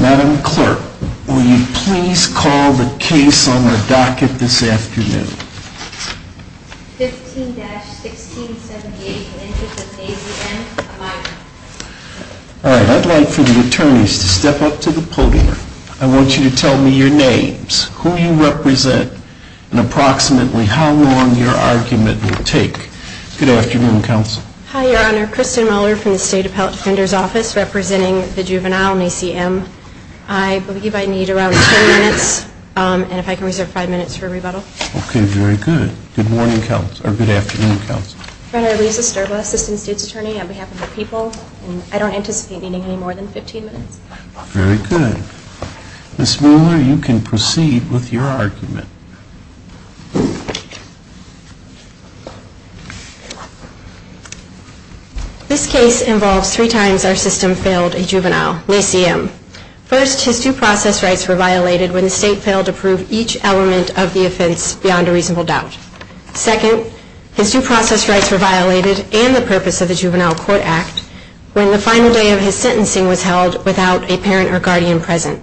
Madam Clerk, will you please call the case on the docket this afternoon? 15-1678, the interest of Nasie M. All right, I'd like for the attorneys to step up to the podium. I want you to tell me your names, who you represent, and approximately how long your argument will take. Good afternoon, Counsel. Hi, Your Honor. Kristen Mueller from the State Appellate Defender's Office, representing the juvenile, Nasie M. I believe I need around 10 minutes, and if I can reserve 5 minutes for rebuttal. Okay, very good. Good morning, Counsel, or good afternoon, Counsel. Your Honor, Lisa Sterba, Assistant State's Attorney on behalf of the people. I don't anticipate needing any more than 15 minutes. Very good. Ms. Mueller, you can proceed with your argument. This case involves three times our system failed a juvenile, Nasie M. First, his due process rights were violated when the State failed to prove each element of the offense beyond a reasonable doubt. Second, his due process rights were violated and the purpose of the Juvenile Court Act when the final day of his sentencing was held without a parent or guardian present.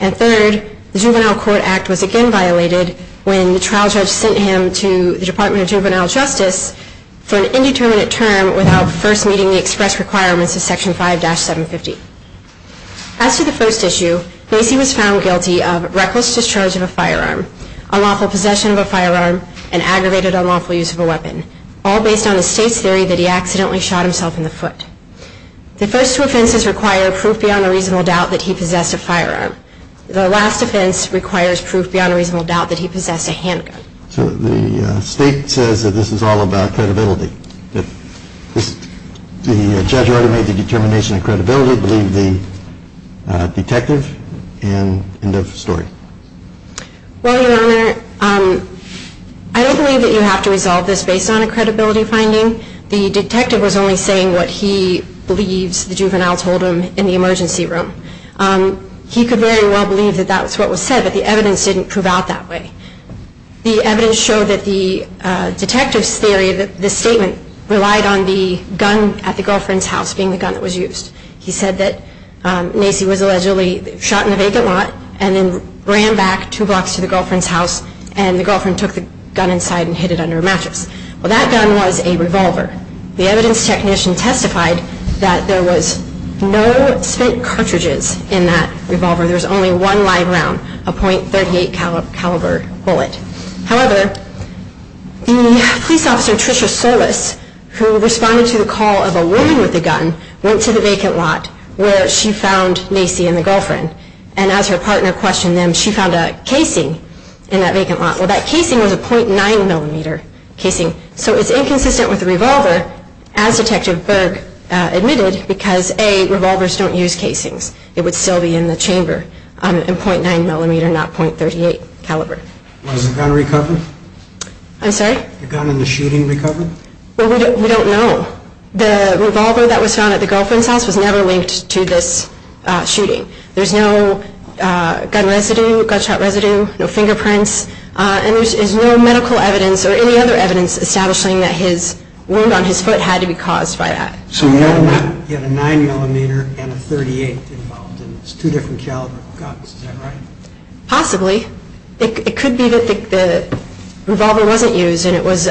And third, the Juvenile Court Act was again violated when the trial judge sent him to the Department of Juvenile Justice for an indeterminate term without first meeting the express requirements of Section 5-750. As to the first issue, Nasie was found guilty of reckless discharge of a firearm, unlawful possession of a firearm, and aggravated unlawful use of a weapon, all based on the State's theory that he accidentally shot himself in the foot. The first two offenses require proof beyond a reasonable doubt that he possessed a firearm. The last offense requires proof beyond a reasonable doubt that he possessed a handgun. So the State says that this is all about credibility. The judge already made the determination of credibility, believe the detective, and end of story. Well, Your Honor, I don't believe that you have to resolve this based on a credibility finding. The detective was only saying what he believes the juvenile told him in the emergency room. He could very well believe that that's what was said, but the evidence didn't prove out that way. The evidence showed that the detective's theory, this statement, relied on the gun at the girlfriend's house being the gun that was used. He said that Nasie was allegedly shot in a vacant lot and then ran back two blocks to the girlfriend's house and the girlfriend took the gun inside and hid it under a mattress. Well, that gun was a revolver. The evidence technician testified that there was no spent cartridges in that revolver. There was only one live round, a .38 caliber bullet. However, the police officer, Tricia Solis, who responded to the call of a woman with a gun, went to the vacant lot where she found Nasie and the girlfriend. And as her partner questioned them, she found a casing in that vacant lot. Well, that casing was a .9 millimeter casing. So it's inconsistent with the revolver, as Detective Berg admitted, because, A, revolvers don't use casings. It would still be in the chamber in .9 millimeter, not .38 caliber. Was the gun recovered? I'm sorry? The gun in the shooting recovered? Well, we don't know. The revolver that was found at the girlfriend's house was never linked to this shooting. There's no gun residue, gunshot residue, no fingerprints, and there's no medical evidence or any other evidence establishing that his wound on his foot had to be caused by that. So you know that he had a .9 millimeter and a .38 involved in this, two different caliber of guns. Is that right? Possibly. It could be that the revolver wasn't used and it was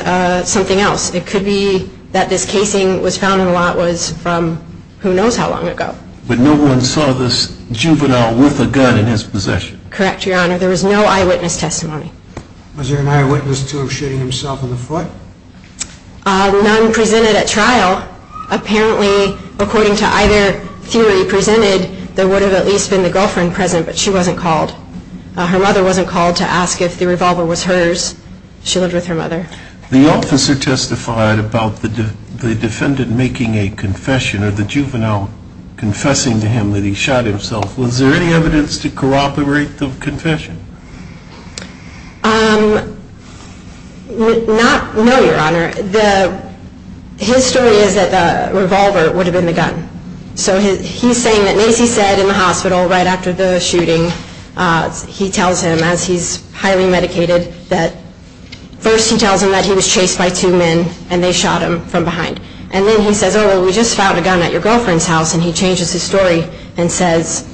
something else. It could be that this casing was found in the lot from who knows how long ago. But no one saw this juvenile with a gun in his possession? Correct, Your Honor. There was no eyewitness testimony. Was there an eyewitness to him shooting himself in the foot? None presented at trial. Apparently, according to either theory presented, there would have at least been the girlfriend present, but she wasn't called. Her mother wasn't called to ask if the revolver was hers. She lived with her mother. The officer testified about the defendant making a confession or the juvenile confessing to him that he shot himself. Was there any evidence to corroborate the confession? No, Your Honor. His story is that the revolver would have been the gun. So he's saying that, as he said in the hospital right after the shooting, he tells him, as he's highly medicated, that first he tells him that he was chased by two men and they shot him from behind. And then he says, oh, well, we just found a gun at your girlfriend's house. And he changes his story and says,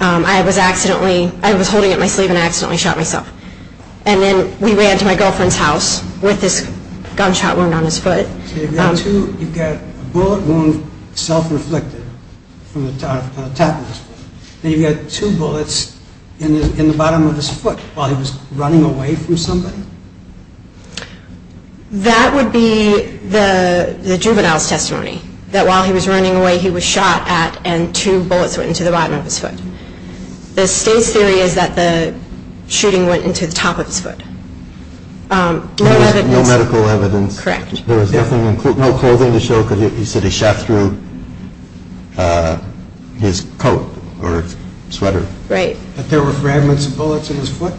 I was holding it in my sleeve and I accidentally shot myself. And then we ran to my girlfriend's house with this gunshot wound on his foot. So you've got a bullet wound self-reflected from the top of his foot. And you've got two bullets in the bottom of his foot while he was running away from somebody? That would be the juvenile's testimony, that while he was running away, he was shot at, and two bullets went into the bottom of his foot. The state's theory is that the shooting went into the top of his foot. No medical evidence? Correct. There was no clothing to show because he said he shot through his coat or sweater. Right. But there were fragments of bullets in his foot?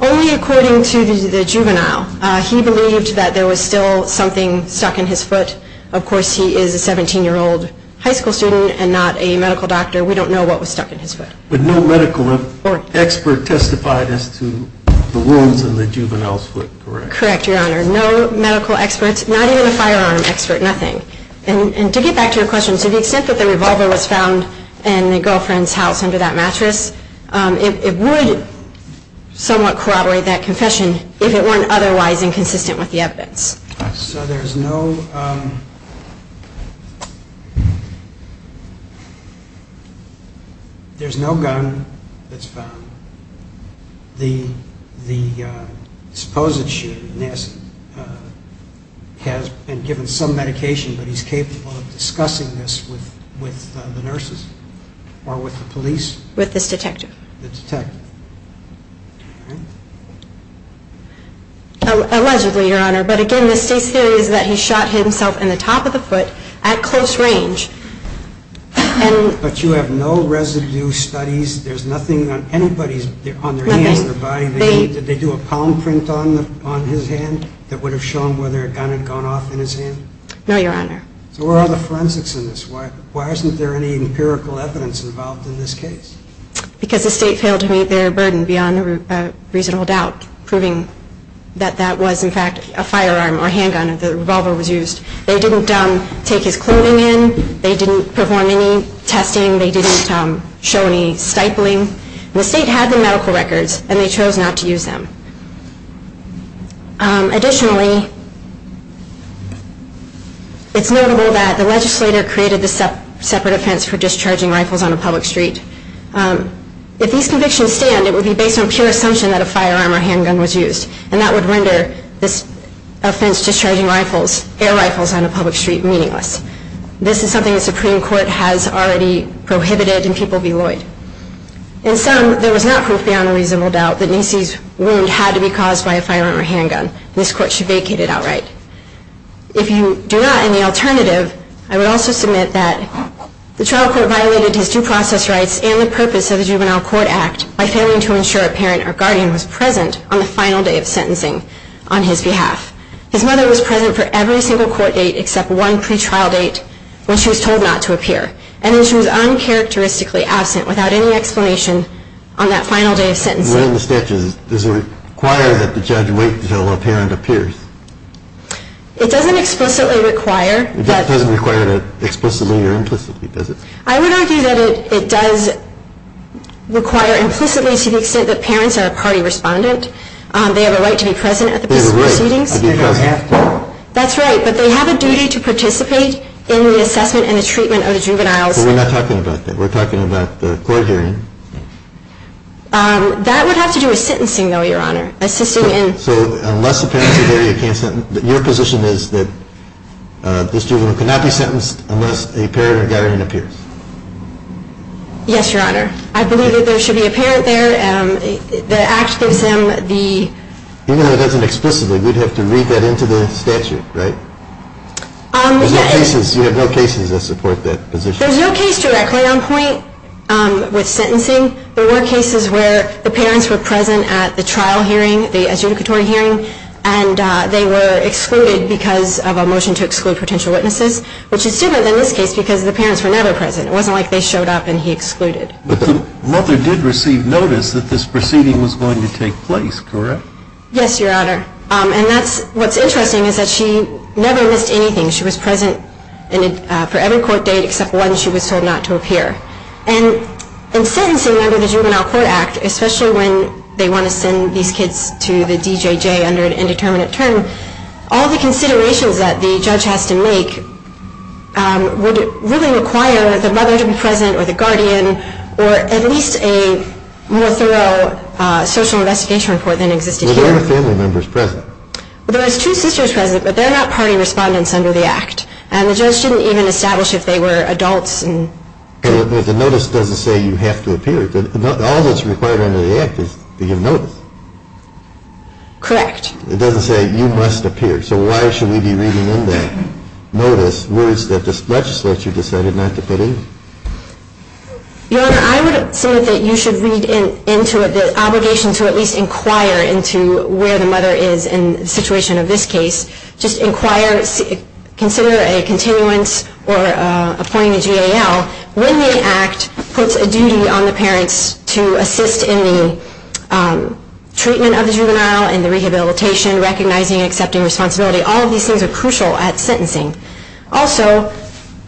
Only according to the juvenile. He believed that there was still something stuck in his foot. Of course, he is a 17-year-old high school student and not a medical doctor. We don't know what was stuck in his foot. But no medical expert testified as to the wounds in the juvenile's foot, correct? Correct, Your Honor. There are no medical experts, not even a firearm expert, nothing. And to get back to your question, to the extent that the revolver was found in the girlfriend's house under that mattress, it would somewhat corroborate that confession if it weren't otherwise inconsistent with the evidence. So there's no gun that's found. The supposed shooter, Nassif, has been given some medication, but he's capable of discussing this with the nurses or with the police? With this detective. The detective. Allegedly, Your Honor. But again, the state's theory is that he shot himself in the top of the foot at close range. But you have no residue studies? There's nothing on anybody's hands or body? Nothing. Did they do a palm print on his hand that would have shown whether a gun had gone off in his hand? No, Your Honor. So where are the forensics in this? Why isn't there any empirical evidence involved in this case? Because the state failed to meet their burden beyond reasonable doubt, proving that that was, in fact, a firearm or a handgun. The revolver was used. They didn't take his clothing in. They didn't perform any testing. They didn't show any stifling. The state had the medical records, and they chose not to use them. Additionally, it's notable that the legislator created this separate offense for discharging rifles on a public street. If these convictions stand, it would be based on pure assumption that a firearm or handgun was used, and that would render this offense discharging air rifles on a public street meaningless. This is something the Supreme Court has already prohibited and people beloyed. In sum, there was not proof beyond reasonable doubt that Nacy's wound had to be caused by a firearm or handgun, and this Court should vacate it outright. If you do not have any alternative, I would also submit that the trial court violated his due process rights and the purpose of the Juvenile Court Act by failing to ensure a parent or guardian was present on the final day of sentencing on his behalf. His mother was present for every single court date except one pretrial date when she was told not to appear, and then she was uncharacteristically absent without any explanation on that final day of sentencing. Within the statute, does it require that the judge wait until a parent appears? It doesn't explicitly require. It doesn't require explicitly or implicitly, does it? I would argue that it does require implicitly to the extent that parents are a party respondent. They have a right to be present at the proceedings. They have a right. They don't have to. That's right, but they have a duty to participate in the assessment and the treatment of the juveniles. But we're not talking about that. We're talking about the court hearing. That would have to do with sentencing, though, Your Honor. So unless the parents are there, your position is that this juvenile cannot be sentenced unless a parent or guardian appears? Yes, Your Honor. I believe that there should be a parent there. Even though it doesn't explicitly, we'd have to read that into the statute, right? You have no cases that support that position. There's no case directly on point with sentencing. There were cases where the parents were present at the trial hearing, the adjudicatory hearing, and they were excluded because of a motion to exclude potential witnesses, which is different than this case because the parents were never present. It wasn't like they showed up and he excluded. But the mother did receive notice that this proceeding was going to take place, correct? Yes, Your Honor. And what's interesting is that she never missed anything. She was present for every court date except one she was told not to appear. And in sentencing under the Juvenile Court Act, especially when they want to send these kids to the DJJ under an indeterminate term, all the considerations that the judge has to make would really require the mother to be present or the guardian or at least a more thorough social investigation report than existed here. Were there other family members present? Well, there was two sisters present, but they're not party respondents under the Act. And the judge didn't even establish if they were adults. The notice doesn't say you have to appear. All that's required under the Act is to give notice. Correct. It doesn't say you must appear. So why should we be reading in that notice words that this legislature decided not to put in? Your Honor, I would assume that you should read into it the obligation to at least inquire into where the mother is in the situation of this case. Just inquire, consider a continuance or appoint a GAL. When the Act puts a duty on the parents to assist in the treatment of the juvenile and the rehabilitation, recognizing and accepting responsibility, all of these things are crucial at sentencing. Also,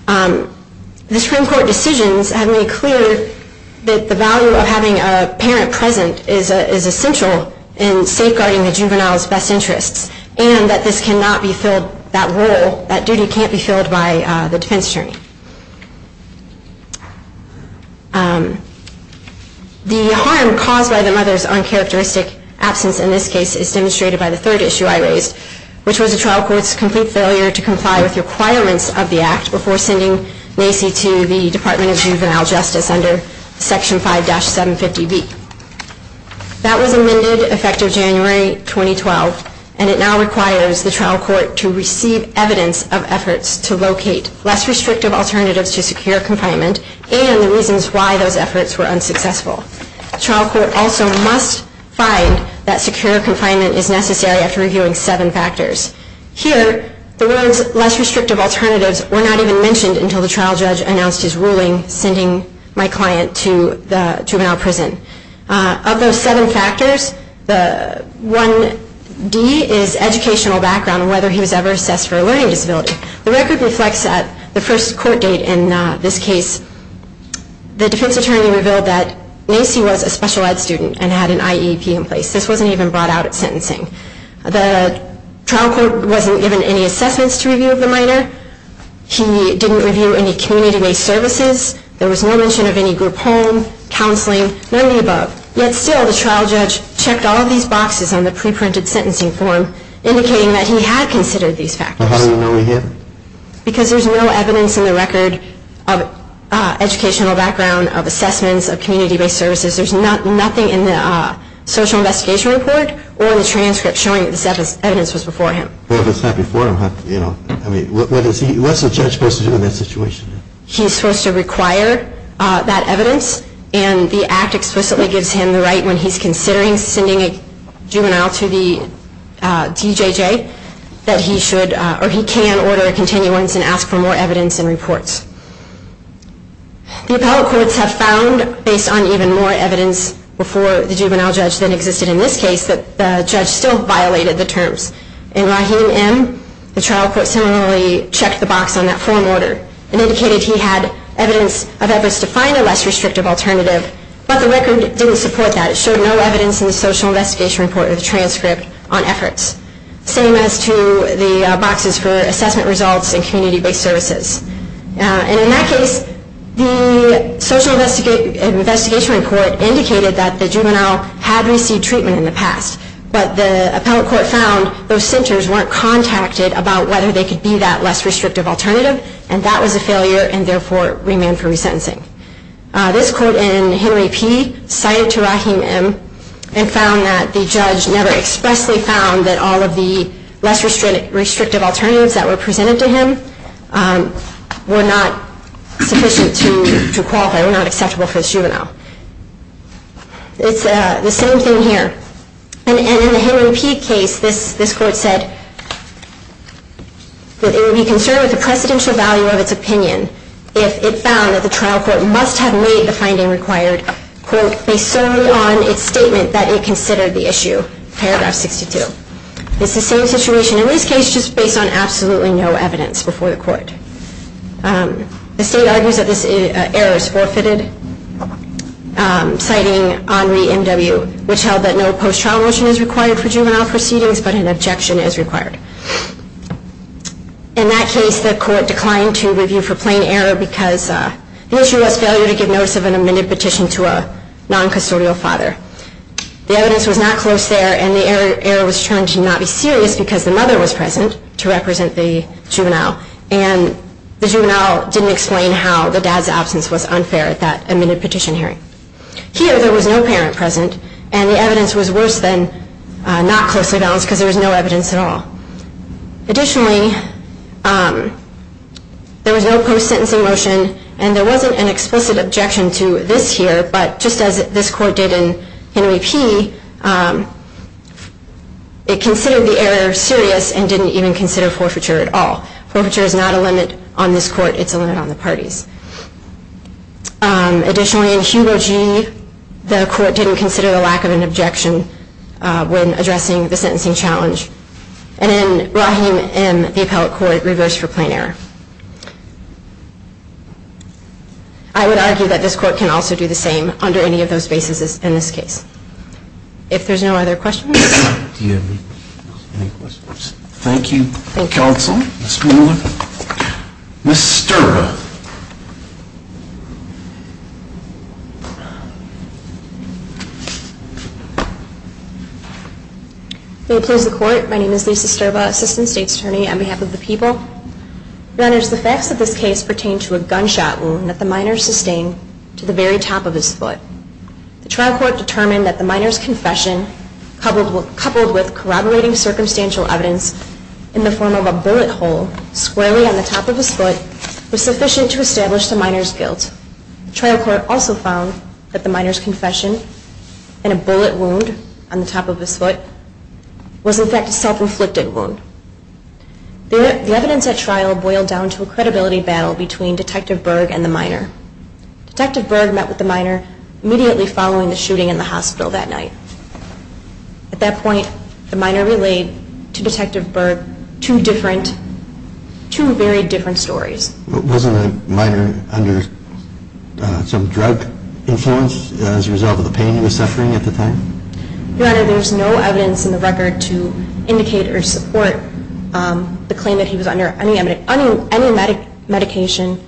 the Supreme Court decisions have made clear that the value of having a parent present is essential in safeguarding the juvenile's best interests and that this cannot be filled, that role, that duty can't be filled by the defense attorney. The harm caused by the mother's uncharacteristic absence in this case is demonstrated by the third issue I raised, which was the trial court's complete failure to comply with requirements of the Act before sending NACI to the Department of Juvenile Justice under Section 5-750B. That was amended effective January 2012, and it now requires the trial court to receive evidence of efforts to locate less restrictive alternatives to secure confinement and the reasons why those efforts were unsuccessful. The trial court also must find that secure confinement is necessary after reviewing seven factors. Here, the words less restrictive alternatives were not even mentioned until the trial judge announced his ruling sending my client to the juvenile prison. Of those seven factors, the 1D is educational background and whether he was ever assessed for a learning disability. The record reflects that the first court date in this case, the defense attorney revealed that NACI was a special ed student and had an IEP in place. This wasn't even brought out at sentencing. The trial court wasn't given any assessments to review of the minor. He didn't review any community-based services. There was no mention of any group home, counseling, none of the above. Yet still, the trial judge checked all of these boxes on the pre-printed sentencing form, indicating that he had considered these factors. How do you know he hadn't? Because there's no evidence in the record of educational background, of assessments, of community-based services. There's nothing in the social investigation report or the transcript showing that this evidence was before him. Well, if it's not before him, what's a judge supposed to do in that situation? He's supposed to require that evidence, and the act explicitly gives him the right when he's considering sending a juvenile to the DJJ, that he should or he can order a continuance and ask for more evidence and reports. The appellate courts have found, based on even more evidence before the juvenile judge than existed in this case, that the judge still violated the terms. In Rahim M., the trial court similarly checked the box on that form order, and indicated he had evidence of efforts to find a less restrictive alternative, but the record didn't support that. It showed no evidence in the social investigation report or the transcript on efforts. Same as to the boxes for assessment results and community-based services. And in that case, the social investigation report indicated that the juvenile had received treatment in the past, but the appellate court found those centers weren't contacted about whether they could be that less restrictive alternative, and that was a failure, and therefore remanded for resentencing. This court in Henry P. cited to Rahim M., and found that the judge never expressly found that all of the less restrictive alternatives that were presented to him were not sufficient to qualify, were not acceptable for the juvenile. It's the same thing here. And in the Henry P. case, this court said that it would be concerned with the precedential value of its opinion if it found that the trial court must have made the finding required, quote, based solely on its statement that it considered the issue, paragraph 62. It's the same situation in this case, just based on absolutely no evidence before the court. The state argues that this error is forfeited, citing Henri M.W., which held that no post-trial motion is required for juvenile proceedings, but an objection is required. In that case, the court declined to review for plain error because the issue was failure to give notice of an amended petition to a non-custodial father. The evidence was not close there, and the error was shown to not be serious because the mother was present to represent the juvenile. And the juvenile didn't explain how the dad's absence was unfair at that amended petition hearing. Here, there was no parent present, and the evidence was worse than not closely balanced because there was no evidence at all. Additionally, there was no post-sentencing motion, and there wasn't an explicit objection to this here, but just as this court did in Henry P., it considered the error serious and didn't even consider forfeiture at all. Forfeiture is not a limit on this court. It's a limit on the parties. Additionally, in Hugo G., the court didn't consider the lack of an objection when addressing the sentencing challenge. And in Rahim M., the appellate court reversed for plain error. I would argue that this court can also do the same under any of those bases in this case. If there's no other questions. Do you have any questions? Thank you, counsel. Ms. Mueller. Ms. Sterba. May it please the court. My name is Lisa Sterba, assistant state's attorney on behalf of the people. Your honors, the facts of this case pertain to a gunshot wound that the minor sustained to the very top of his foot. The trial court determined that the minor's confession coupled with corroborating circumstantial evidence in the form of a bullet hole squarely on the top of his foot was sufficient to establish the minor's guilt. The trial court also found that the minor's confession in a bullet wound on the top of his foot was in fact a self-inflicted wound. The evidence at trial boiled down to a credibility battle between Detective Berg and the minor. Detective Berg met with the minor immediately following the shooting in the hospital that night. At that point, the minor relayed to Detective Berg two very different stories. Wasn't the minor under some drug influence as a result of the pain he was suffering at the time? Your honor, there's no evidence in the record to indicate or support the claim that he was under any medication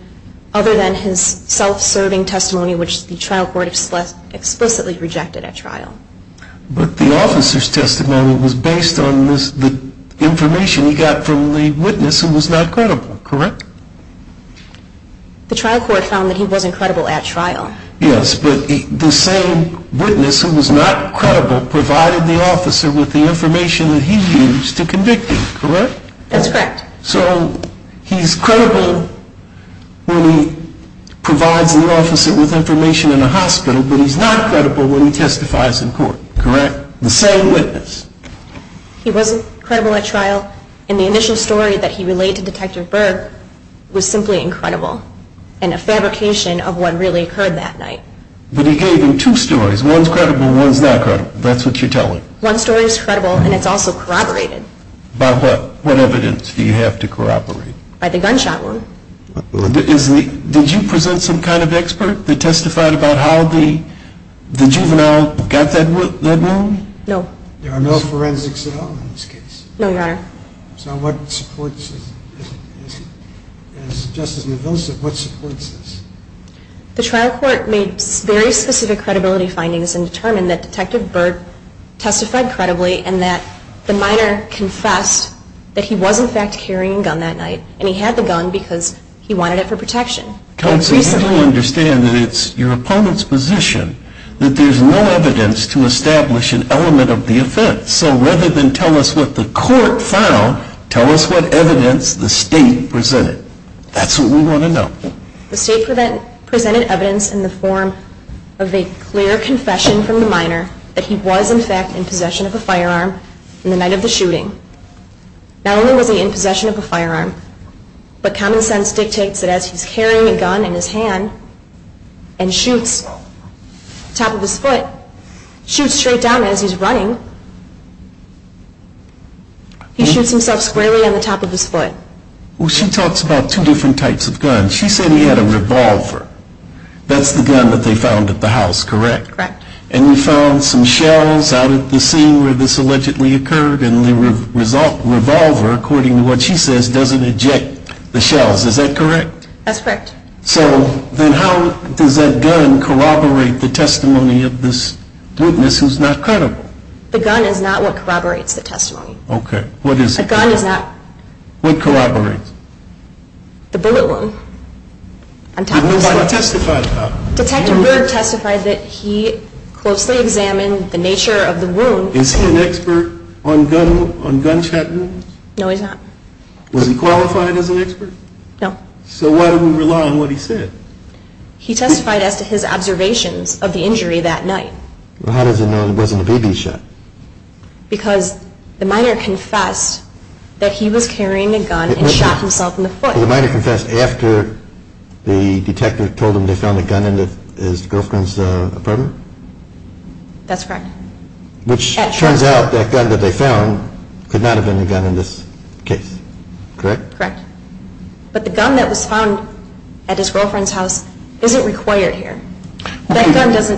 other than his self-serving testimony, which the trial court explicitly rejected at trial. But the officer's testimony was based on the information he got from the witness who was not credible, correct? The trial court found that he wasn't credible at trial. Yes, but the same witness who was not credible provided the officer with the information that he used to convict him, correct? That's correct. So he's credible when he provides the officer with information in a hospital, but he's not credible when he testifies in court, correct? The same witness. He wasn't credible at trial, and the initial story that he relayed to Detective Berg was simply incredible, and a fabrication of what really occurred that night. But he gave him two stories. One's credible, one's not credible. That's what you're telling. One story's credible, and it's also corroborated. By what? What evidence do you have to corroborate? By the gunshot wound. Did you present some kind of expert that testified about how the juvenile got that wound? No. There are no forensics at all in this case? No, Your Honor. So what supports this? As Justice Mendoza, what supports this? The trial court made very specific credibility findings and determined that Detective Berg testified credibly and that the minor confessed that he was, in fact, carrying a gun that night, and he had the gun because he wanted it for protection. Counsel, you don't understand that it's your opponent's position that there's no evidence to establish an element of the offense. So rather than tell us what the court found, tell us what evidence the state presented. That's what we want to know. The state presented evidence in the form of a clear confession from the minor that he was, in fact, in possession of a firearm the night of the shooting. Not only was he in possession of a firearm, but common sense dictates that as he's carrying a gun in his hand and shoots top of his foot, shoots straight down as he's running, he shoots himself squarely on the top of his foot. Well, she talks about two different types of guns. She said he had a revolver. That's the gun that they found at the house, correct? Correct. And you found some shells out at the scene where this allegedly occurred, and the revolver, according to what she says, doesn't eject the shells. Is that correct? That's correct. So then how does that gun corroborate the testimony of this witness who's not credible? The gun is not what corroborates the testimony. Okay. What is it? The gun is not what corroborates the bullet wound. Did nobody testify about it? Detective Berg testified that he closely examined the nature of the wound. Is he an expert on gunshot wounds? No, he's not. Was he qualified as an expert? No. So why didn't he rely on what he said? He testified as to his observations of the injury that night. How does he know it wasn't a BB shot? Because the minor confessed that he was carrying a gun and shot himself in the foot. The minor confessed after the detective told him they found a gun in his girlfriend's apartment? That's correct. Which turns out that gun that they found could not have been the gun in this case, correct? Correct. But the gun that was found at his girlfriend's house isn't required here. Is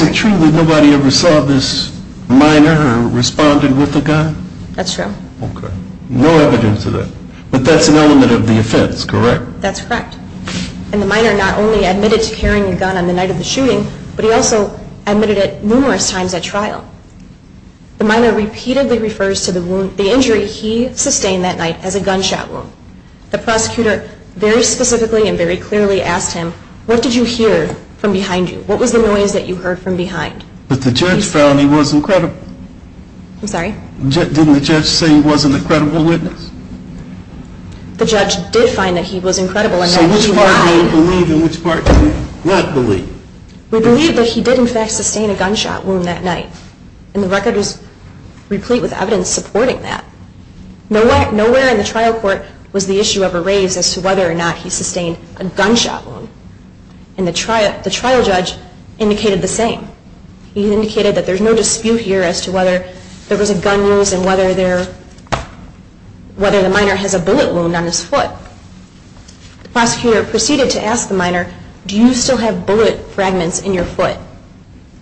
it true that nobody ever saw this minor who responded with a gun? That's true. Okay. No evidence of that. But that's an element of the offense, correct? That's correct. And the minor not only admitted to carrying a gun on the night of the shooting, but he also admitted it numerous times at trial. The minor repeatedly refers to the injury he sustained that night as a gunshot wound. The prosecutor very specifically and very clearly asked him, what did you hear from behind you? What was the noise that you heard from behind? But the judge found he was incredible. I'm sorry? Didn't the judge say he was an incredible witness? The judge did find that he was incredible. So which part did he believe and which part did he not believe? We believe that he did, in fact, sustain a gunshot wound that night. And the record is replete with evidence supporting that. Nowhere in the trial court was the issue ever raised as to whether or not he sustained a gunshot wound. And the trial judge indicated the same. He indicated that there's no dispute here as to whether there was a gun use and whether the minor has a bullet wound on his foot. The prosecutor proceeded to ask the minor, do you still have bullet fragments in your foot?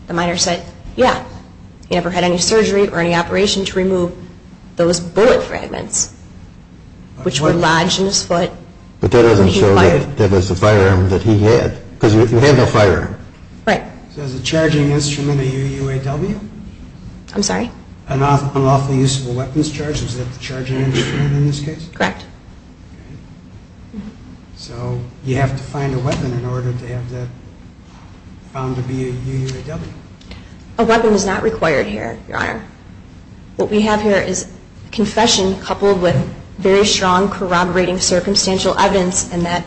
The minor said, yeah. He never had any surgery or any operation to remove those bullet fragments which were lodged in his foot. But that doesn't show that that was a firearm that he had. Because you have a firearm. Right. So is a charging instrument a UUAW? I'm sorry? An unlawfully usable weapons charge? Is that the charging instrument in this case? Correct. So you have to find a weapon in order to have that found to be a UUAW? A weapon is not required here, Your Honor. What we have here is confession coupled with very strong corroborating circumstantial evidence in that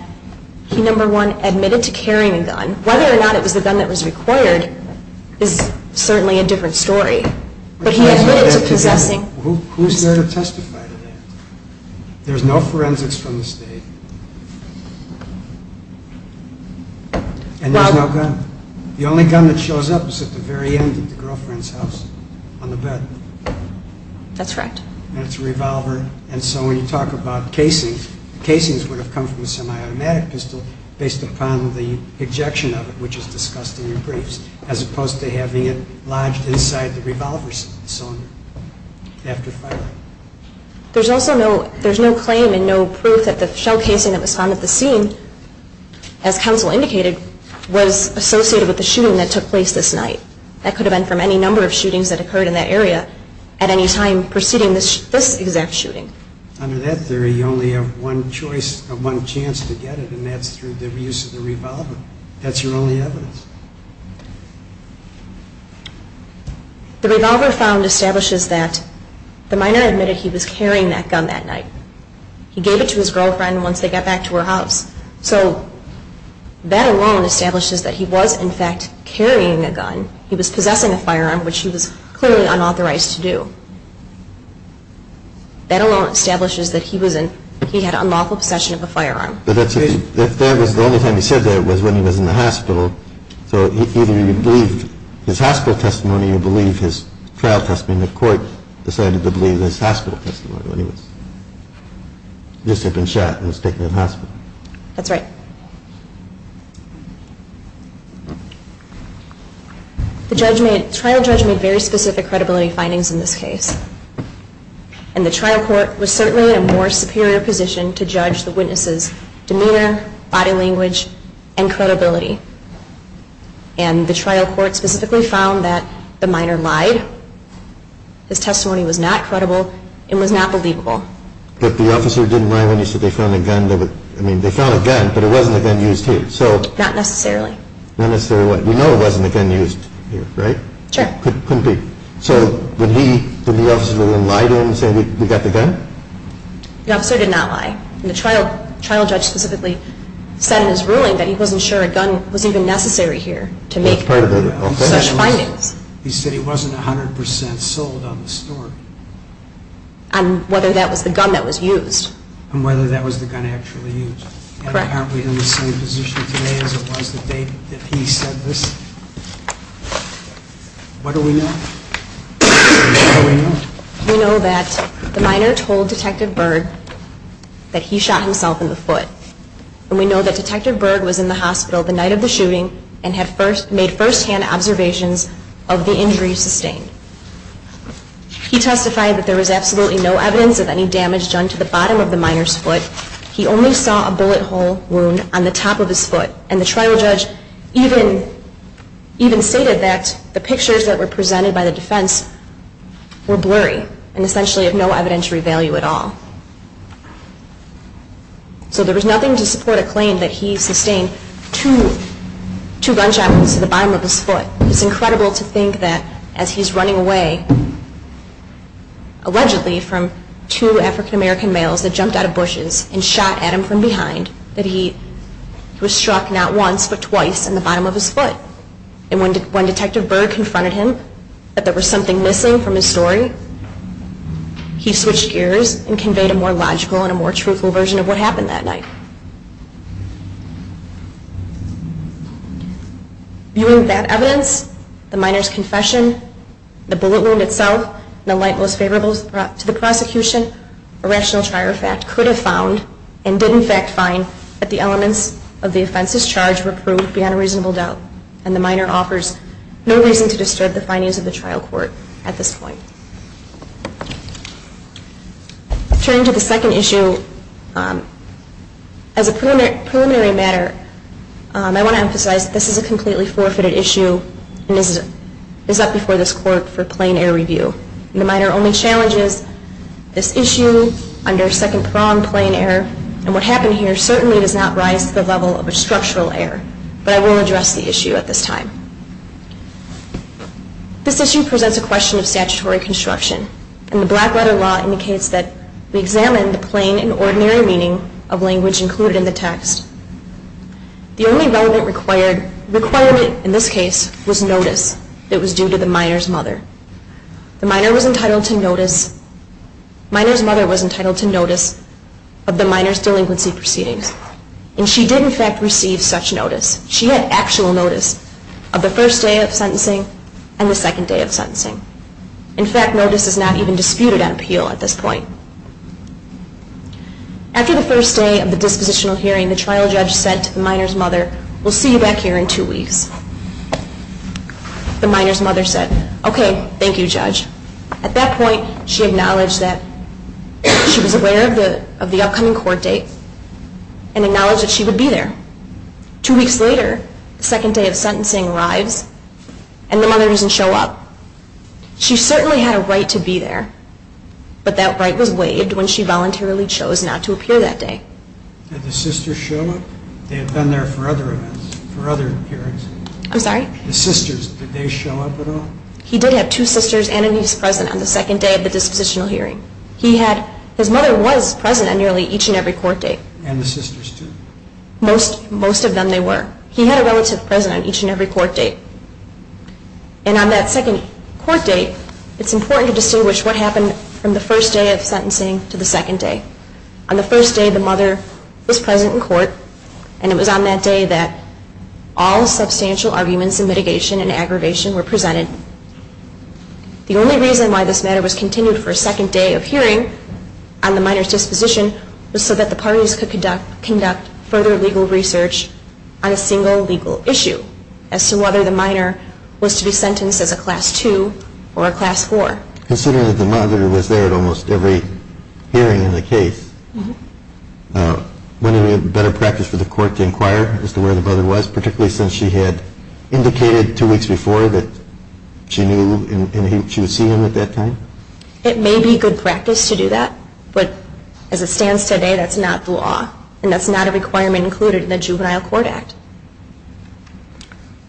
he, number one, admitted to carrying a gun. Whether or not it was the gun that was required is certainly a different story. But he admitted to possessing. Who's here to testify to that? There's no forensics from the state. And there's no gun. The only gun that shows up is at the very end of the girlfriend's house on the bed. That's correct. And it's a revolver. And so when you talk about casings, the casings would have come from a semi-automatic pistol based upon the ejection of it, which is discussed in your briefs, as opposed to having it lodged inside the revolver cylinder after firing. There's also no claim and no proof that the shell casing that was found at the scene, as counsel indicated, was associated with the shooting that took place this night. That could have been from any number of shootings that occurred in that area at any time preceding this exact shooting. Under that theory, you only have one choice or one chance to get it, and that's through the use of the revolver. That's your only evidence. The revolver found establishes that the minor admitted he was carrying that gun that night. He gave it to his girlfriend once they got back to her house. So that alone establishes that he was, in fact, carrying a gun. He was possessing a firearm, which he was clearly unauthorized to do. That alone establishes that he had unlawful possession of a firearm. The only time he said that was when he was in the hospital. So either he believed his hospital testimony or he didn't even believe his trial testimony. The court decided to believe his hospital testimony. This had been shot and was taken to the hospital. That's right. The trial judge made very specific credibility findings in this case, and the trial court was certainly in a more superior position and the trial court specifically found that the minor lied. His testimony was not credible and was not believable. But the officer didn't lie when he said they found a gun. I mean, they found a gun, but it wasn't a gun used here. Not necessarily. Not necessarily. You know it wasn't a gun used here, right? Sure. Couldn't be. So when the officer lied to him and said we got the gun? The officer did not lie. And the trial judge specifically said in his ruling that he wasn't sure a gun was even necessary here to make such findings. He said it wasn't 100% sold on the store. And whether that was the gun that was used. And whether that was the gun actually used. Correct. And aren't we in the same position today as it was the day that he said this? What do we know? What do we know? We know that the minor told Detective Berg that he shot himself in the foot. And we know that Detective Berg was in the hospital the night of the shooting and had made firsthand observations of the injury sustained. He testified that there was absolutely no evidence of any damage done to the bottom of the minor's foot. He only saw a bullet hole wound on the top of his foot. And the trial judge even stated that the pictures that were presented by the defense were blurry and essentially of no evidentiary value at all. So there was nothing to support a claim that he sustained two gunshots to the bottom of his foot. It's incredible to think that as he's running away, allegedly, from two African American males that jumped out of bushes and shot at him from behind, that he was struck not once but twice in the bottom of his foot. And when Detective Berg confronted him that there was something missing from his story, he switched gears and conveyed a more logical and a more truthful version of what happened that night. Viewing that evidence, the minor's confession, the bullet wound itself, and the light most favorable to the prosecution, a rational trial fact could have found, and did in fact find, that the elements of the offense's charge were proved beyond a reasonable doubt. And the minor offers no reason to disturb the findings of the trial court at this point. Turning to the second issue, as a preliminary matter, I want to emphasize that this is a completely forfeited issue and is up before this court for plain air review. The minor only challenges this issue under second-pronged plain air, and what happened here certainly does not rise to the level of a structural error, but I will address the issue at this time. This issue presents a question of statutory construction, and the black-letter law indicates that we examine the plain and ordinary meaning of language included in the text. The only relevant requirement in this case was notice that was due to the minor's mother. The minor was entitled to notice of the minor's delinquency proceedings, and she did in fact receive such notice. She had actual notice of the first day of sentencing and the second day of sentencing. In fact, notice is not even disputed on appeal at this point. After the first day of the dispositional hearing, the trial judge said to the minor's mother, We'll see you back here in two weeks. The minor's mother said, Okay, thank you, judge. At that point she acknowledged that she was aware of the upcoming court date and acknowledged that she would be there. Two weeks later, the second day of sentencing arrives, and the mother doesn't show up. She certainly had a right to be there, but that right was waived when she voluntarily chose not to appear that day. Did the sister show up? They had been there for other events, for other hearings. I'm sorry? The sisters, did they show up at all? He did have two sisters, and he was present on the second day of the dispositional hearing. His mother was present on nearly each and every court date. And the sisters too? Most of them they were. He had a relative present on each and every court date. And on that second court date, it's important to distinguish what happened from the first day of sentencing to the second day. On the first day, the mother was present in court, and it was on that day that all substantial arguments in mitigation and aggravation were presented. The only reason why this matter was continued for a second day of hearing on the minor's disposition was so that the parties could conduct further legal research on a single legal issue as to whether the minor was to be sentenced as a Class II or a Class IV. Considering that the mother was there at almost every hearing in the case, wouldn't it be a better practice for the court to inquire as to where the brother was, particularly since she had indicated two weeks before that she knew and she would see him at that time? It may be good practice to do that, but as it stands today, that's not the law, and that's not a requirement included in the Juvenile Court Act.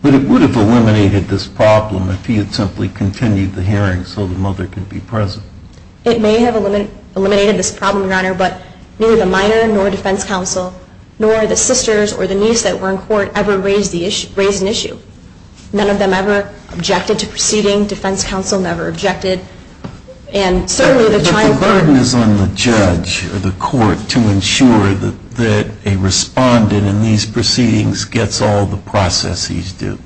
But it would have eliminated this problem if he had simply continued the hearing so the mother could be present. It may have eliminated this problem, Your Honor, but neither the minor nor defense counsel nor the sisters or the niece that were in court ever raised an issue. None of them ever objected to proceeding. Defense counsel never objected. But the burden is on the judge or the court to ensure that a respondent in these proceedings gets all the processes due.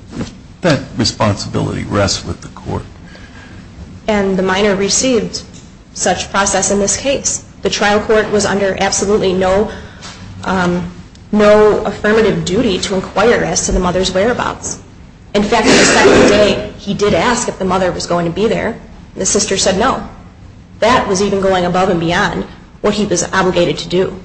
That responsibility rests with the court. And the minor received such process in this case. The trial court was under absolutely no affirmative duty to inquire as to the mother's whereabouts. In fact, the second day he did ask if the mother was going to be there. The sister said no. That was even going above and beyond what he was obligated to do.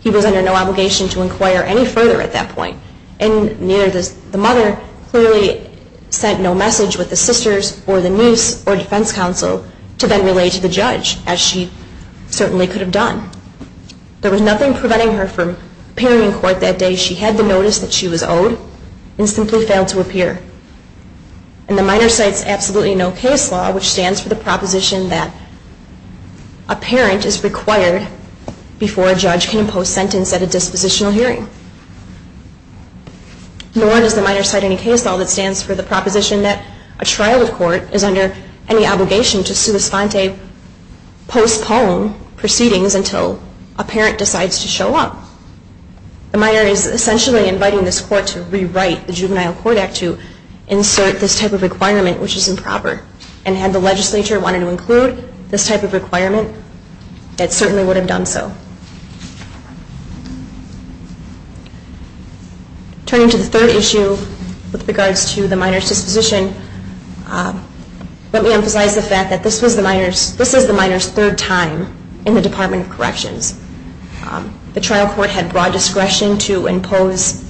He was under no obligation to inquire any further at that point. And neither the mother clearly sent no message with the sisters or the niece or defense counsel to then relay to the judge, as she certainly could have done. There was nothing preventing her from appearing in court that day. She had the notice that she was owed and simply failed to appear. And the minor cites absolutely no case law, which stands for the proposition that a parent is required before a judge can impose sentence at a dispositional hearing. Nor does the minor cite any case law that stands for the proposition that a trial court is under any obligation to sua sponte postpone proceedings until a parent decides to show up. The minor is essentially inviting this court to rewrite the Juvenile Court Act to insert this type of requirement, which is improper. And had the legislature wanted to include this type of requirement, it certainly would have done so. Turning to the third issue with regards to the minor's disposition, let me emphasize the fact that this is the minor's third time in the Department of Corrections. The trial court had broad discretion to impose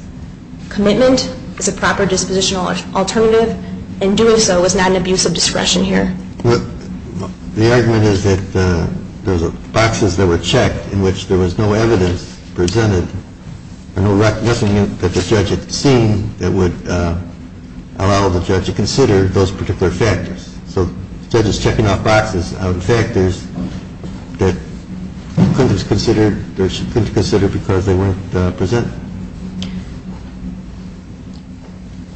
commitment as a proper dispositional alternative. In doing so, it was not an abuse of discretion here. The argument is that there were boxes that were checked in which there was no evidence presented or no recognition that the judge had seen that would allow the judge to consider those particular factors. So the judge is checking off boxes of factors that couldn't be considered because they weren't presented.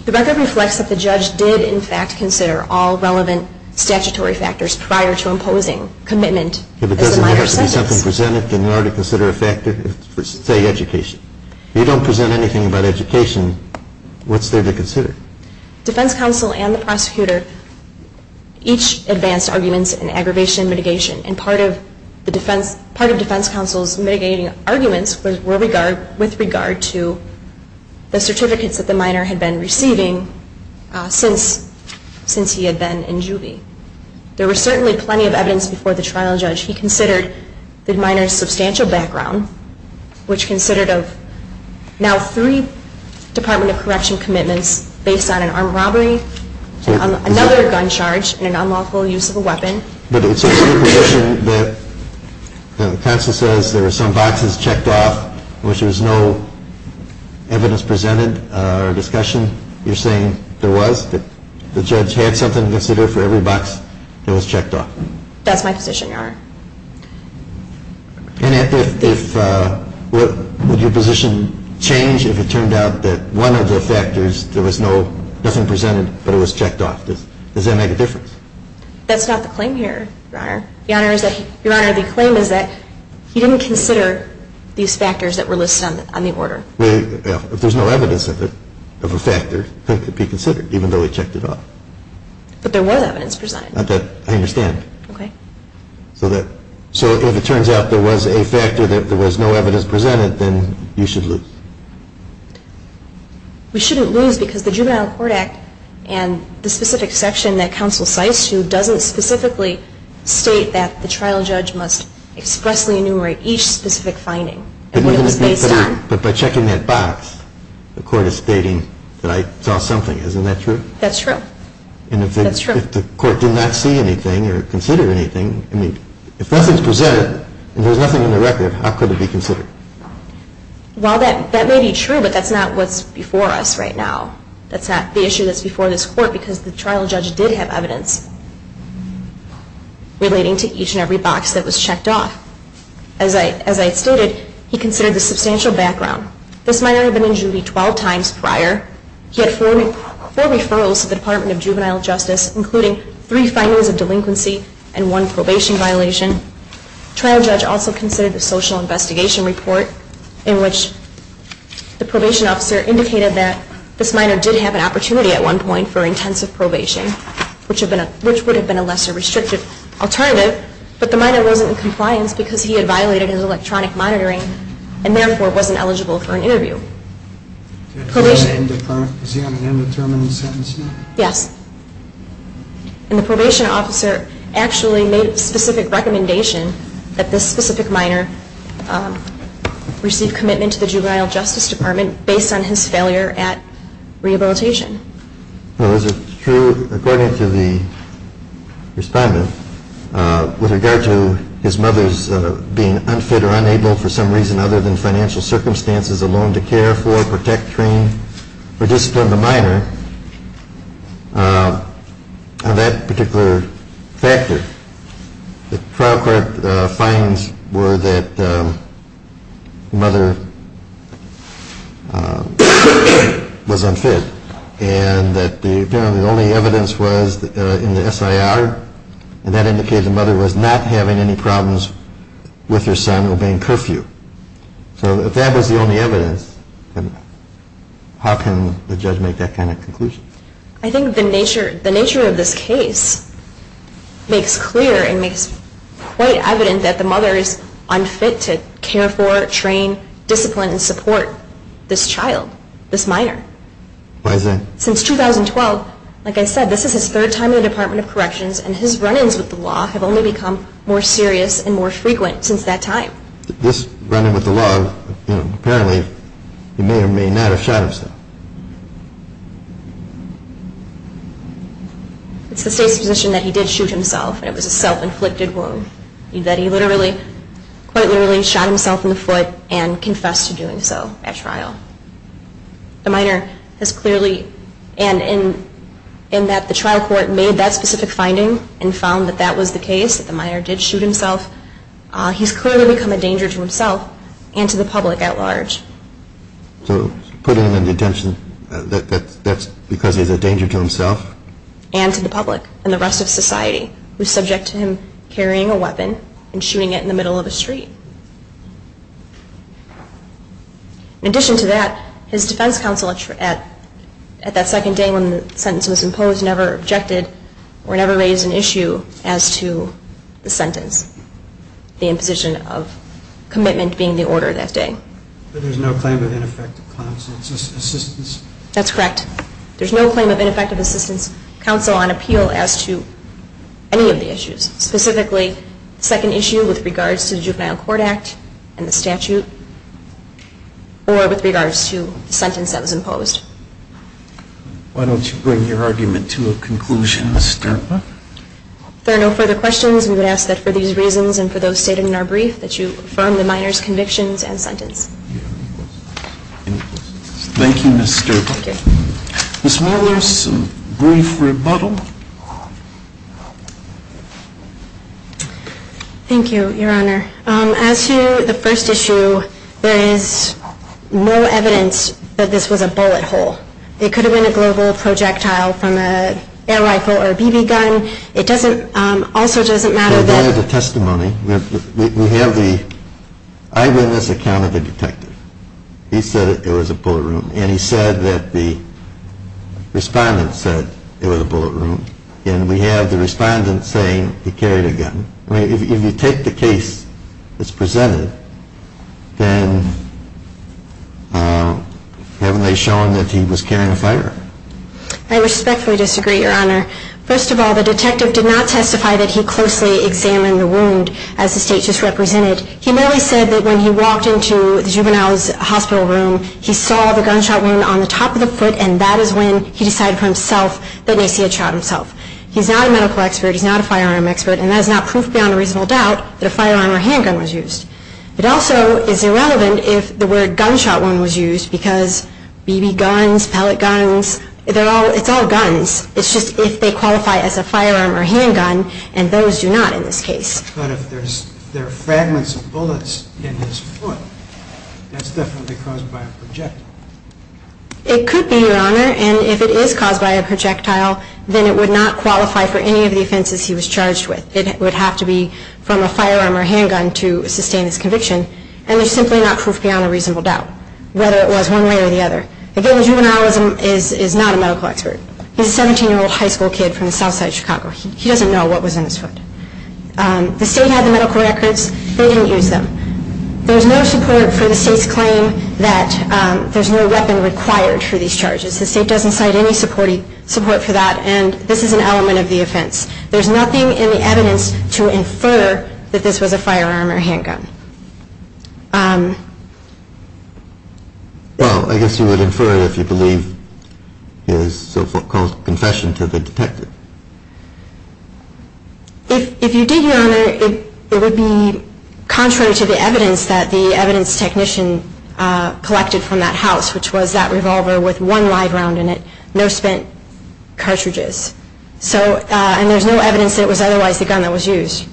The record reflects that the judge did in fact consider all relevant statutory factors prior to imposing commitment as a minor's sentence. If it doesn't have to be something presented, can you already consider a factor? Say education. If you don't present anything about education, what's there to consider? Defense counsel and the prosecutor each advanced arguments in aggravation and mitigation. And part of defense counsel's mitigating arguments were with regard to the certificates that the minor had been receiving since he had been in juvie. There was certainly plenty of evidence before the trial judge. He considered the minor's substantial background, which considered of now three Department of Correction commitments based on an armed robbery, another gun charge, and an unlawful use of a weapon. But it's your position that counsel says there were some boxes checked off in which there was no evidence presented or discussion? You're saying there was? That the judge had something to consider for every box that was checked off? That's my position, Your Honor. And would your position change if it turned out that one of the factors, there was nothing presented, but it was checked off? Does that make a difference? That's not the claim here, Your Honor. Your Honor, the claim is that he didn't consider these factors that were listed on the order. Well, if there's no evidence of a factor, it could be considered, even though he checked it off. But there was evidence presented. I understand. So if it turns out there was a factor that there was no evidence presented, then you should lose. We shouldn't lose because the Juvenile Court Act and the specific section that counsel cites doesn't specifically state that the trial judge must expressly enumerate each specific finding. But by checking that box, the court is stating that I saw something. Isn't that true? That's true. And if the court did not see anything or consider anything, I mean, if nothing's presented and there's nothing in the record, how could it be considered? Well, that may be true, but that's not what's before us right now. That's not the issue that's before this court because the trial judge did have evidence relating to each and every box that was checked off. As I had stated, he considered the substantial background. This might only have been in Judy 12 times prior. He had four referrals to the Department of Juvenile Justice, including three findings of delinquency and one probation violation. The trial judge also considered the social investigation report in which the probation officer indicated that this minor did have an opportunity at one point for intensive probation, which would have been a lesser restrictive alternative, but the minor wasn't in compliance because he had violated his electronic monitoring and therefore wasn't eligible for an interview. Probation. Is he on an indeterminate sentence now? Yes. And the probation officer actually made a specific recommendation that this specific minor receive commitment to the Juvenile Justice Department based on his failure at rehabilitation. Well, is it true, according to the respondent, with regard to his mother's being unfit or unable for some reason other than financial circumstances alone to care for, protect, train, or discipline the minor, of that particular factor, the trial court findings were that the mother was unfit and that the only evidence was in the SIR and that indicated the mother was not having any problems with her son obeying curfew. So if that was the only evidence, how can the judge make that kind of conclusion? I think the nature of this case makes clear and makes quite evident that the mother is unfit to care for, train, discipline, and support this child, this minor. Why is that? Since 2012, like I said, this is his third time in the Department of Corrections and his run-ins with the law have only become more serious and more frequent since that time. This run-in with the law, apparently he may or may not have shot himself. It's the state's position that he did shoot himself and it was a self-inflicted wound, that he quite literally shot himself in the foot and confessed to doing so at trial. The minor has clearly, and in that the trial court made that specific finding and found that that was the case, that the minor did shoot himself, he's clearly become a danger to himself and to the public at large. So putting him in detention, that's because he's a danger to himself? And to the public and the rest of society, who's subject to him carrying a weapon and shooting it in the middle of the street. In addition to that, his defense counsel at that second day when the sentence was imposed never objected or never raised an issue as to the sentence, the imposition of commitment being the order that day. But there's no claim of ineffective counsel assistance? That's correct. There's no claim of ineffective assistance counsel on appeal as to any of the issues, specifically the second issue with regards to the Juvenile Court Act and the statute or with regards to the sentence that was imposed. Why don't you bring your argument to a conclusion, Ms. Sterpa? If there are no further questions, we would ask that for these reasons and for those stated in our brief that you affirm the minor's convictions and sentence. Thank you, Ms. Sterpa. Ms. Mueller, some brief rebuttal? Thank you, Your Honor. As to the first issue, there is no evidence that this was a bullet hole. It could have been a global projectile from an air rifle or a BB gun. It also doesn't matter that- That is a testimony. We have the-I've written this account of the detective. He said it was a bullet hole. And he said that the respondent said it was a bullet hole. And we have the respondent saying he carried a gun. I mean, if you take the case as presented, then haven't they shown that he was carrying a firearm? I respectfully disagree, Your Honor. First of all, the detective did not testify that he closely examined the wound as the state just represented. He merely said that when he walked into the juvenile's hospital room, he saw the gunshot wound on the top of the foot, and that is when he decided for himself that at least he had shot himself. He's not a medical expert. He's not a firearm expert. And that is not proof beyond a reasonable doubt that a firearm or handgun was used. It also is irrelevant if the word gunshot wound was used because BB guns, pellet guns, it's all guns. It's just if they qualify as a firearm or handgun, and those do not in this case. But if there are fragments of bullets in his foot, that's definitely caused by a projectile. It could be, Your Honor, and if it is caused by a projectile, then it would not qualify for any of the offenses he was charged with. It would have to be from a firearm or handgun to sustain his conviction. And there's simply not proof beyond a reasonable doubt, whether it was one way or the other. Again, the juvenile is not a medical expert. He's a 17-year-old high school kid from the south side of Chicago. He doesn't know what was in his foot. The state had the medical records. They didn't use them. There's no support for the state's claim that there's no weapon required for these charges. The state doesn't cite any support for that, and this is an element of the offense. There's nothing in the evidence to infer that this was a firearm or handgun. Well, I guess you would infer it if you believe his so-called confession to the detective. If you did, Your Honor, it would be contrary to the evidence that the evidence technician collected from that house, which was that revolver with one live round in it, no spent cartridges. And there's no evidence that it was otherwise the gun that was used.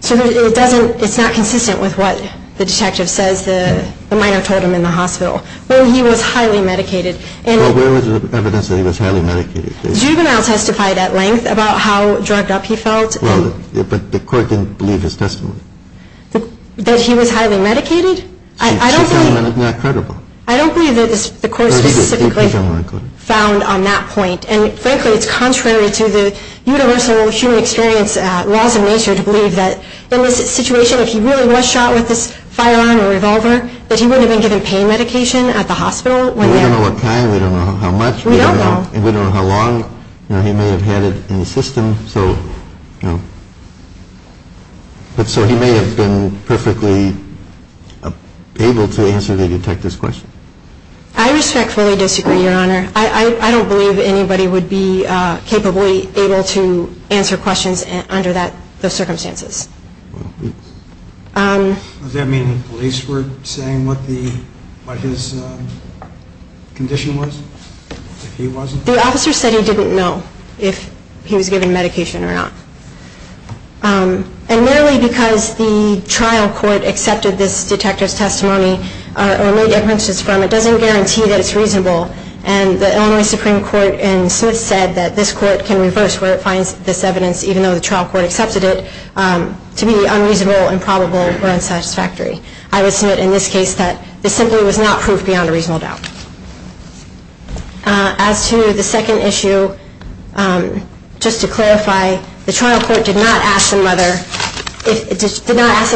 So it's not consistent with what the detective says the minor told him in the hospital. Well, he was highly medicated. Well, where was the evidence that he was highly medicated? Juvenile testified at length about how drugged up he felt. But the court didn't believe his testimony. That he was highly medicated? I don't believe that the court specifically found on that point. And, frankly, it's contrary to the universal human experience laws of nature to believe that in this situation, if he really was shot with this firearm or revolver, that he wouldn't have been given pain medication at the hospital. We don't know what time. We don't know how much. We don't know. We don't know how long he may have had it in the system. So he may have been perfectly able to answer the detective's question. I respectfully disagree, Your Honor. I don't believe anybody would be capably able to answer questions under those circumstances. Does that mean the police weren't saying what his condition was, if he wasn't? The officer said he didn't know if he was given medication or not. And merely because the trial court accepted this detective's testimony or made inferences from it, doesn't guarantee that it's reasonable. And the Illinois Supreme Court in Smith said that this court can reverse where it finds this evidence, even though the trial court accepted it, to be unreasonable, improbable, or unsatisfactory. I would submit in this case that this simply was not proof beyond a reasonable doubt. As to the second issue, just to clarify, the trial court did not ask the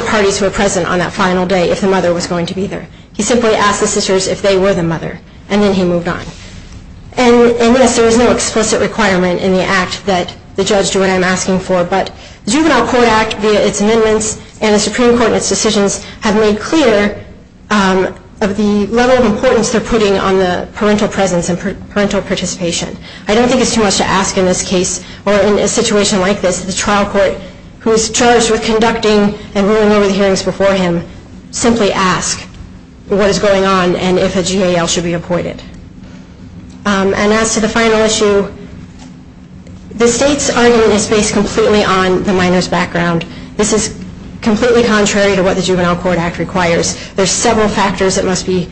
parties who were present on that final day if the mother was going to be there. He simply asked the sisters if they were the mother, and then he moved on. And yes, there is no explicit requirement in the act that the judge do what I'm asking for, but the Juvenile Court Act, via its amendments, and the Supreme Court and its decisions, have made clear of the level of importance they're putting on the parental presence and parental participation. I don't think it's too much to ask in this case, or in a situation like this, that the trial court, who is charged with conducting and ruling over the hearings before him, simply ask what is going on and if a GAL should be appointed. And as to the final issue, the state's argument is based completely on the minor's background. This is completely contrary to what the Juvenile Court Act requires. There are several factors that must be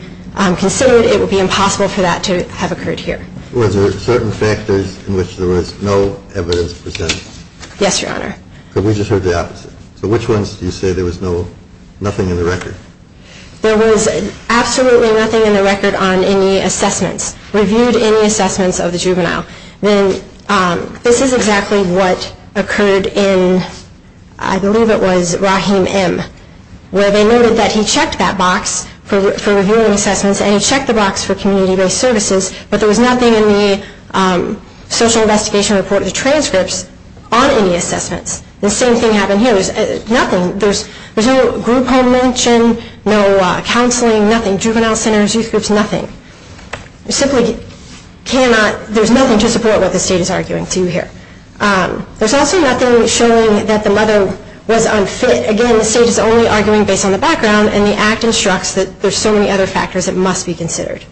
considered. It would be impossible for that to have occurred here. Were there certain factors in which there was no evidence presented? Yes, Your Honor. But we just heard the opposite. So which ones do you say there was nothing in the record? There was absolutely nothing in the record on any assessments, reviewed any assessments of the juvenile. And this is exactly what occurred in, I believe it was, Rahim M., where they noted that he checked that box for reviewing assessments, and he checked the box for community-based services, but there was nothing in the social investigation report, the transcripts, on any assessments. The same thing happened here. There's nothing. There's no group home mention, no counseling, nothing. Juvenile centers, youth groups, nothing. You simply cannot, there's nothing to support what the state is arguing to here. There's also nothing showing that the mother was unfit. Again, the state is only arguing based on the background, and the Act instructs that there's so many other factors that must be considered.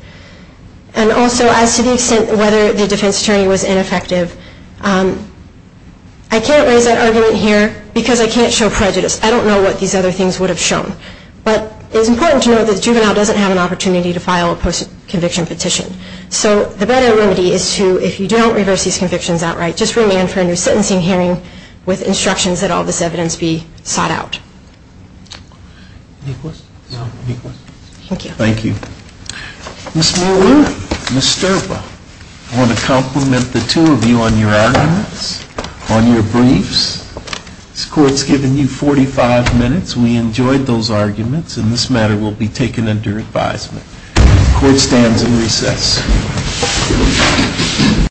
And also, as to the extent whether the defense attorney was ineffective, I can't raise that argument here because I can't show prejudice. I don't know what these other things would have shown. But it's important to note that the juvenile doesn't have an opportunity to file a post-conviction petition. So the better remedy is to, if you don't reverse these convictions outright, just remand for a new sentencing hearing with instructions that all this evidence be sought out. Any questions? No. Thank you. Thank you. Ms. Mooloo, Ms. Sterba, I want to compliment the two of you on your arguments, on your briefs. This court's given you 45 minutes. We enjoyed those arguments, and this matter will be taken under advisement. The court stands in recess.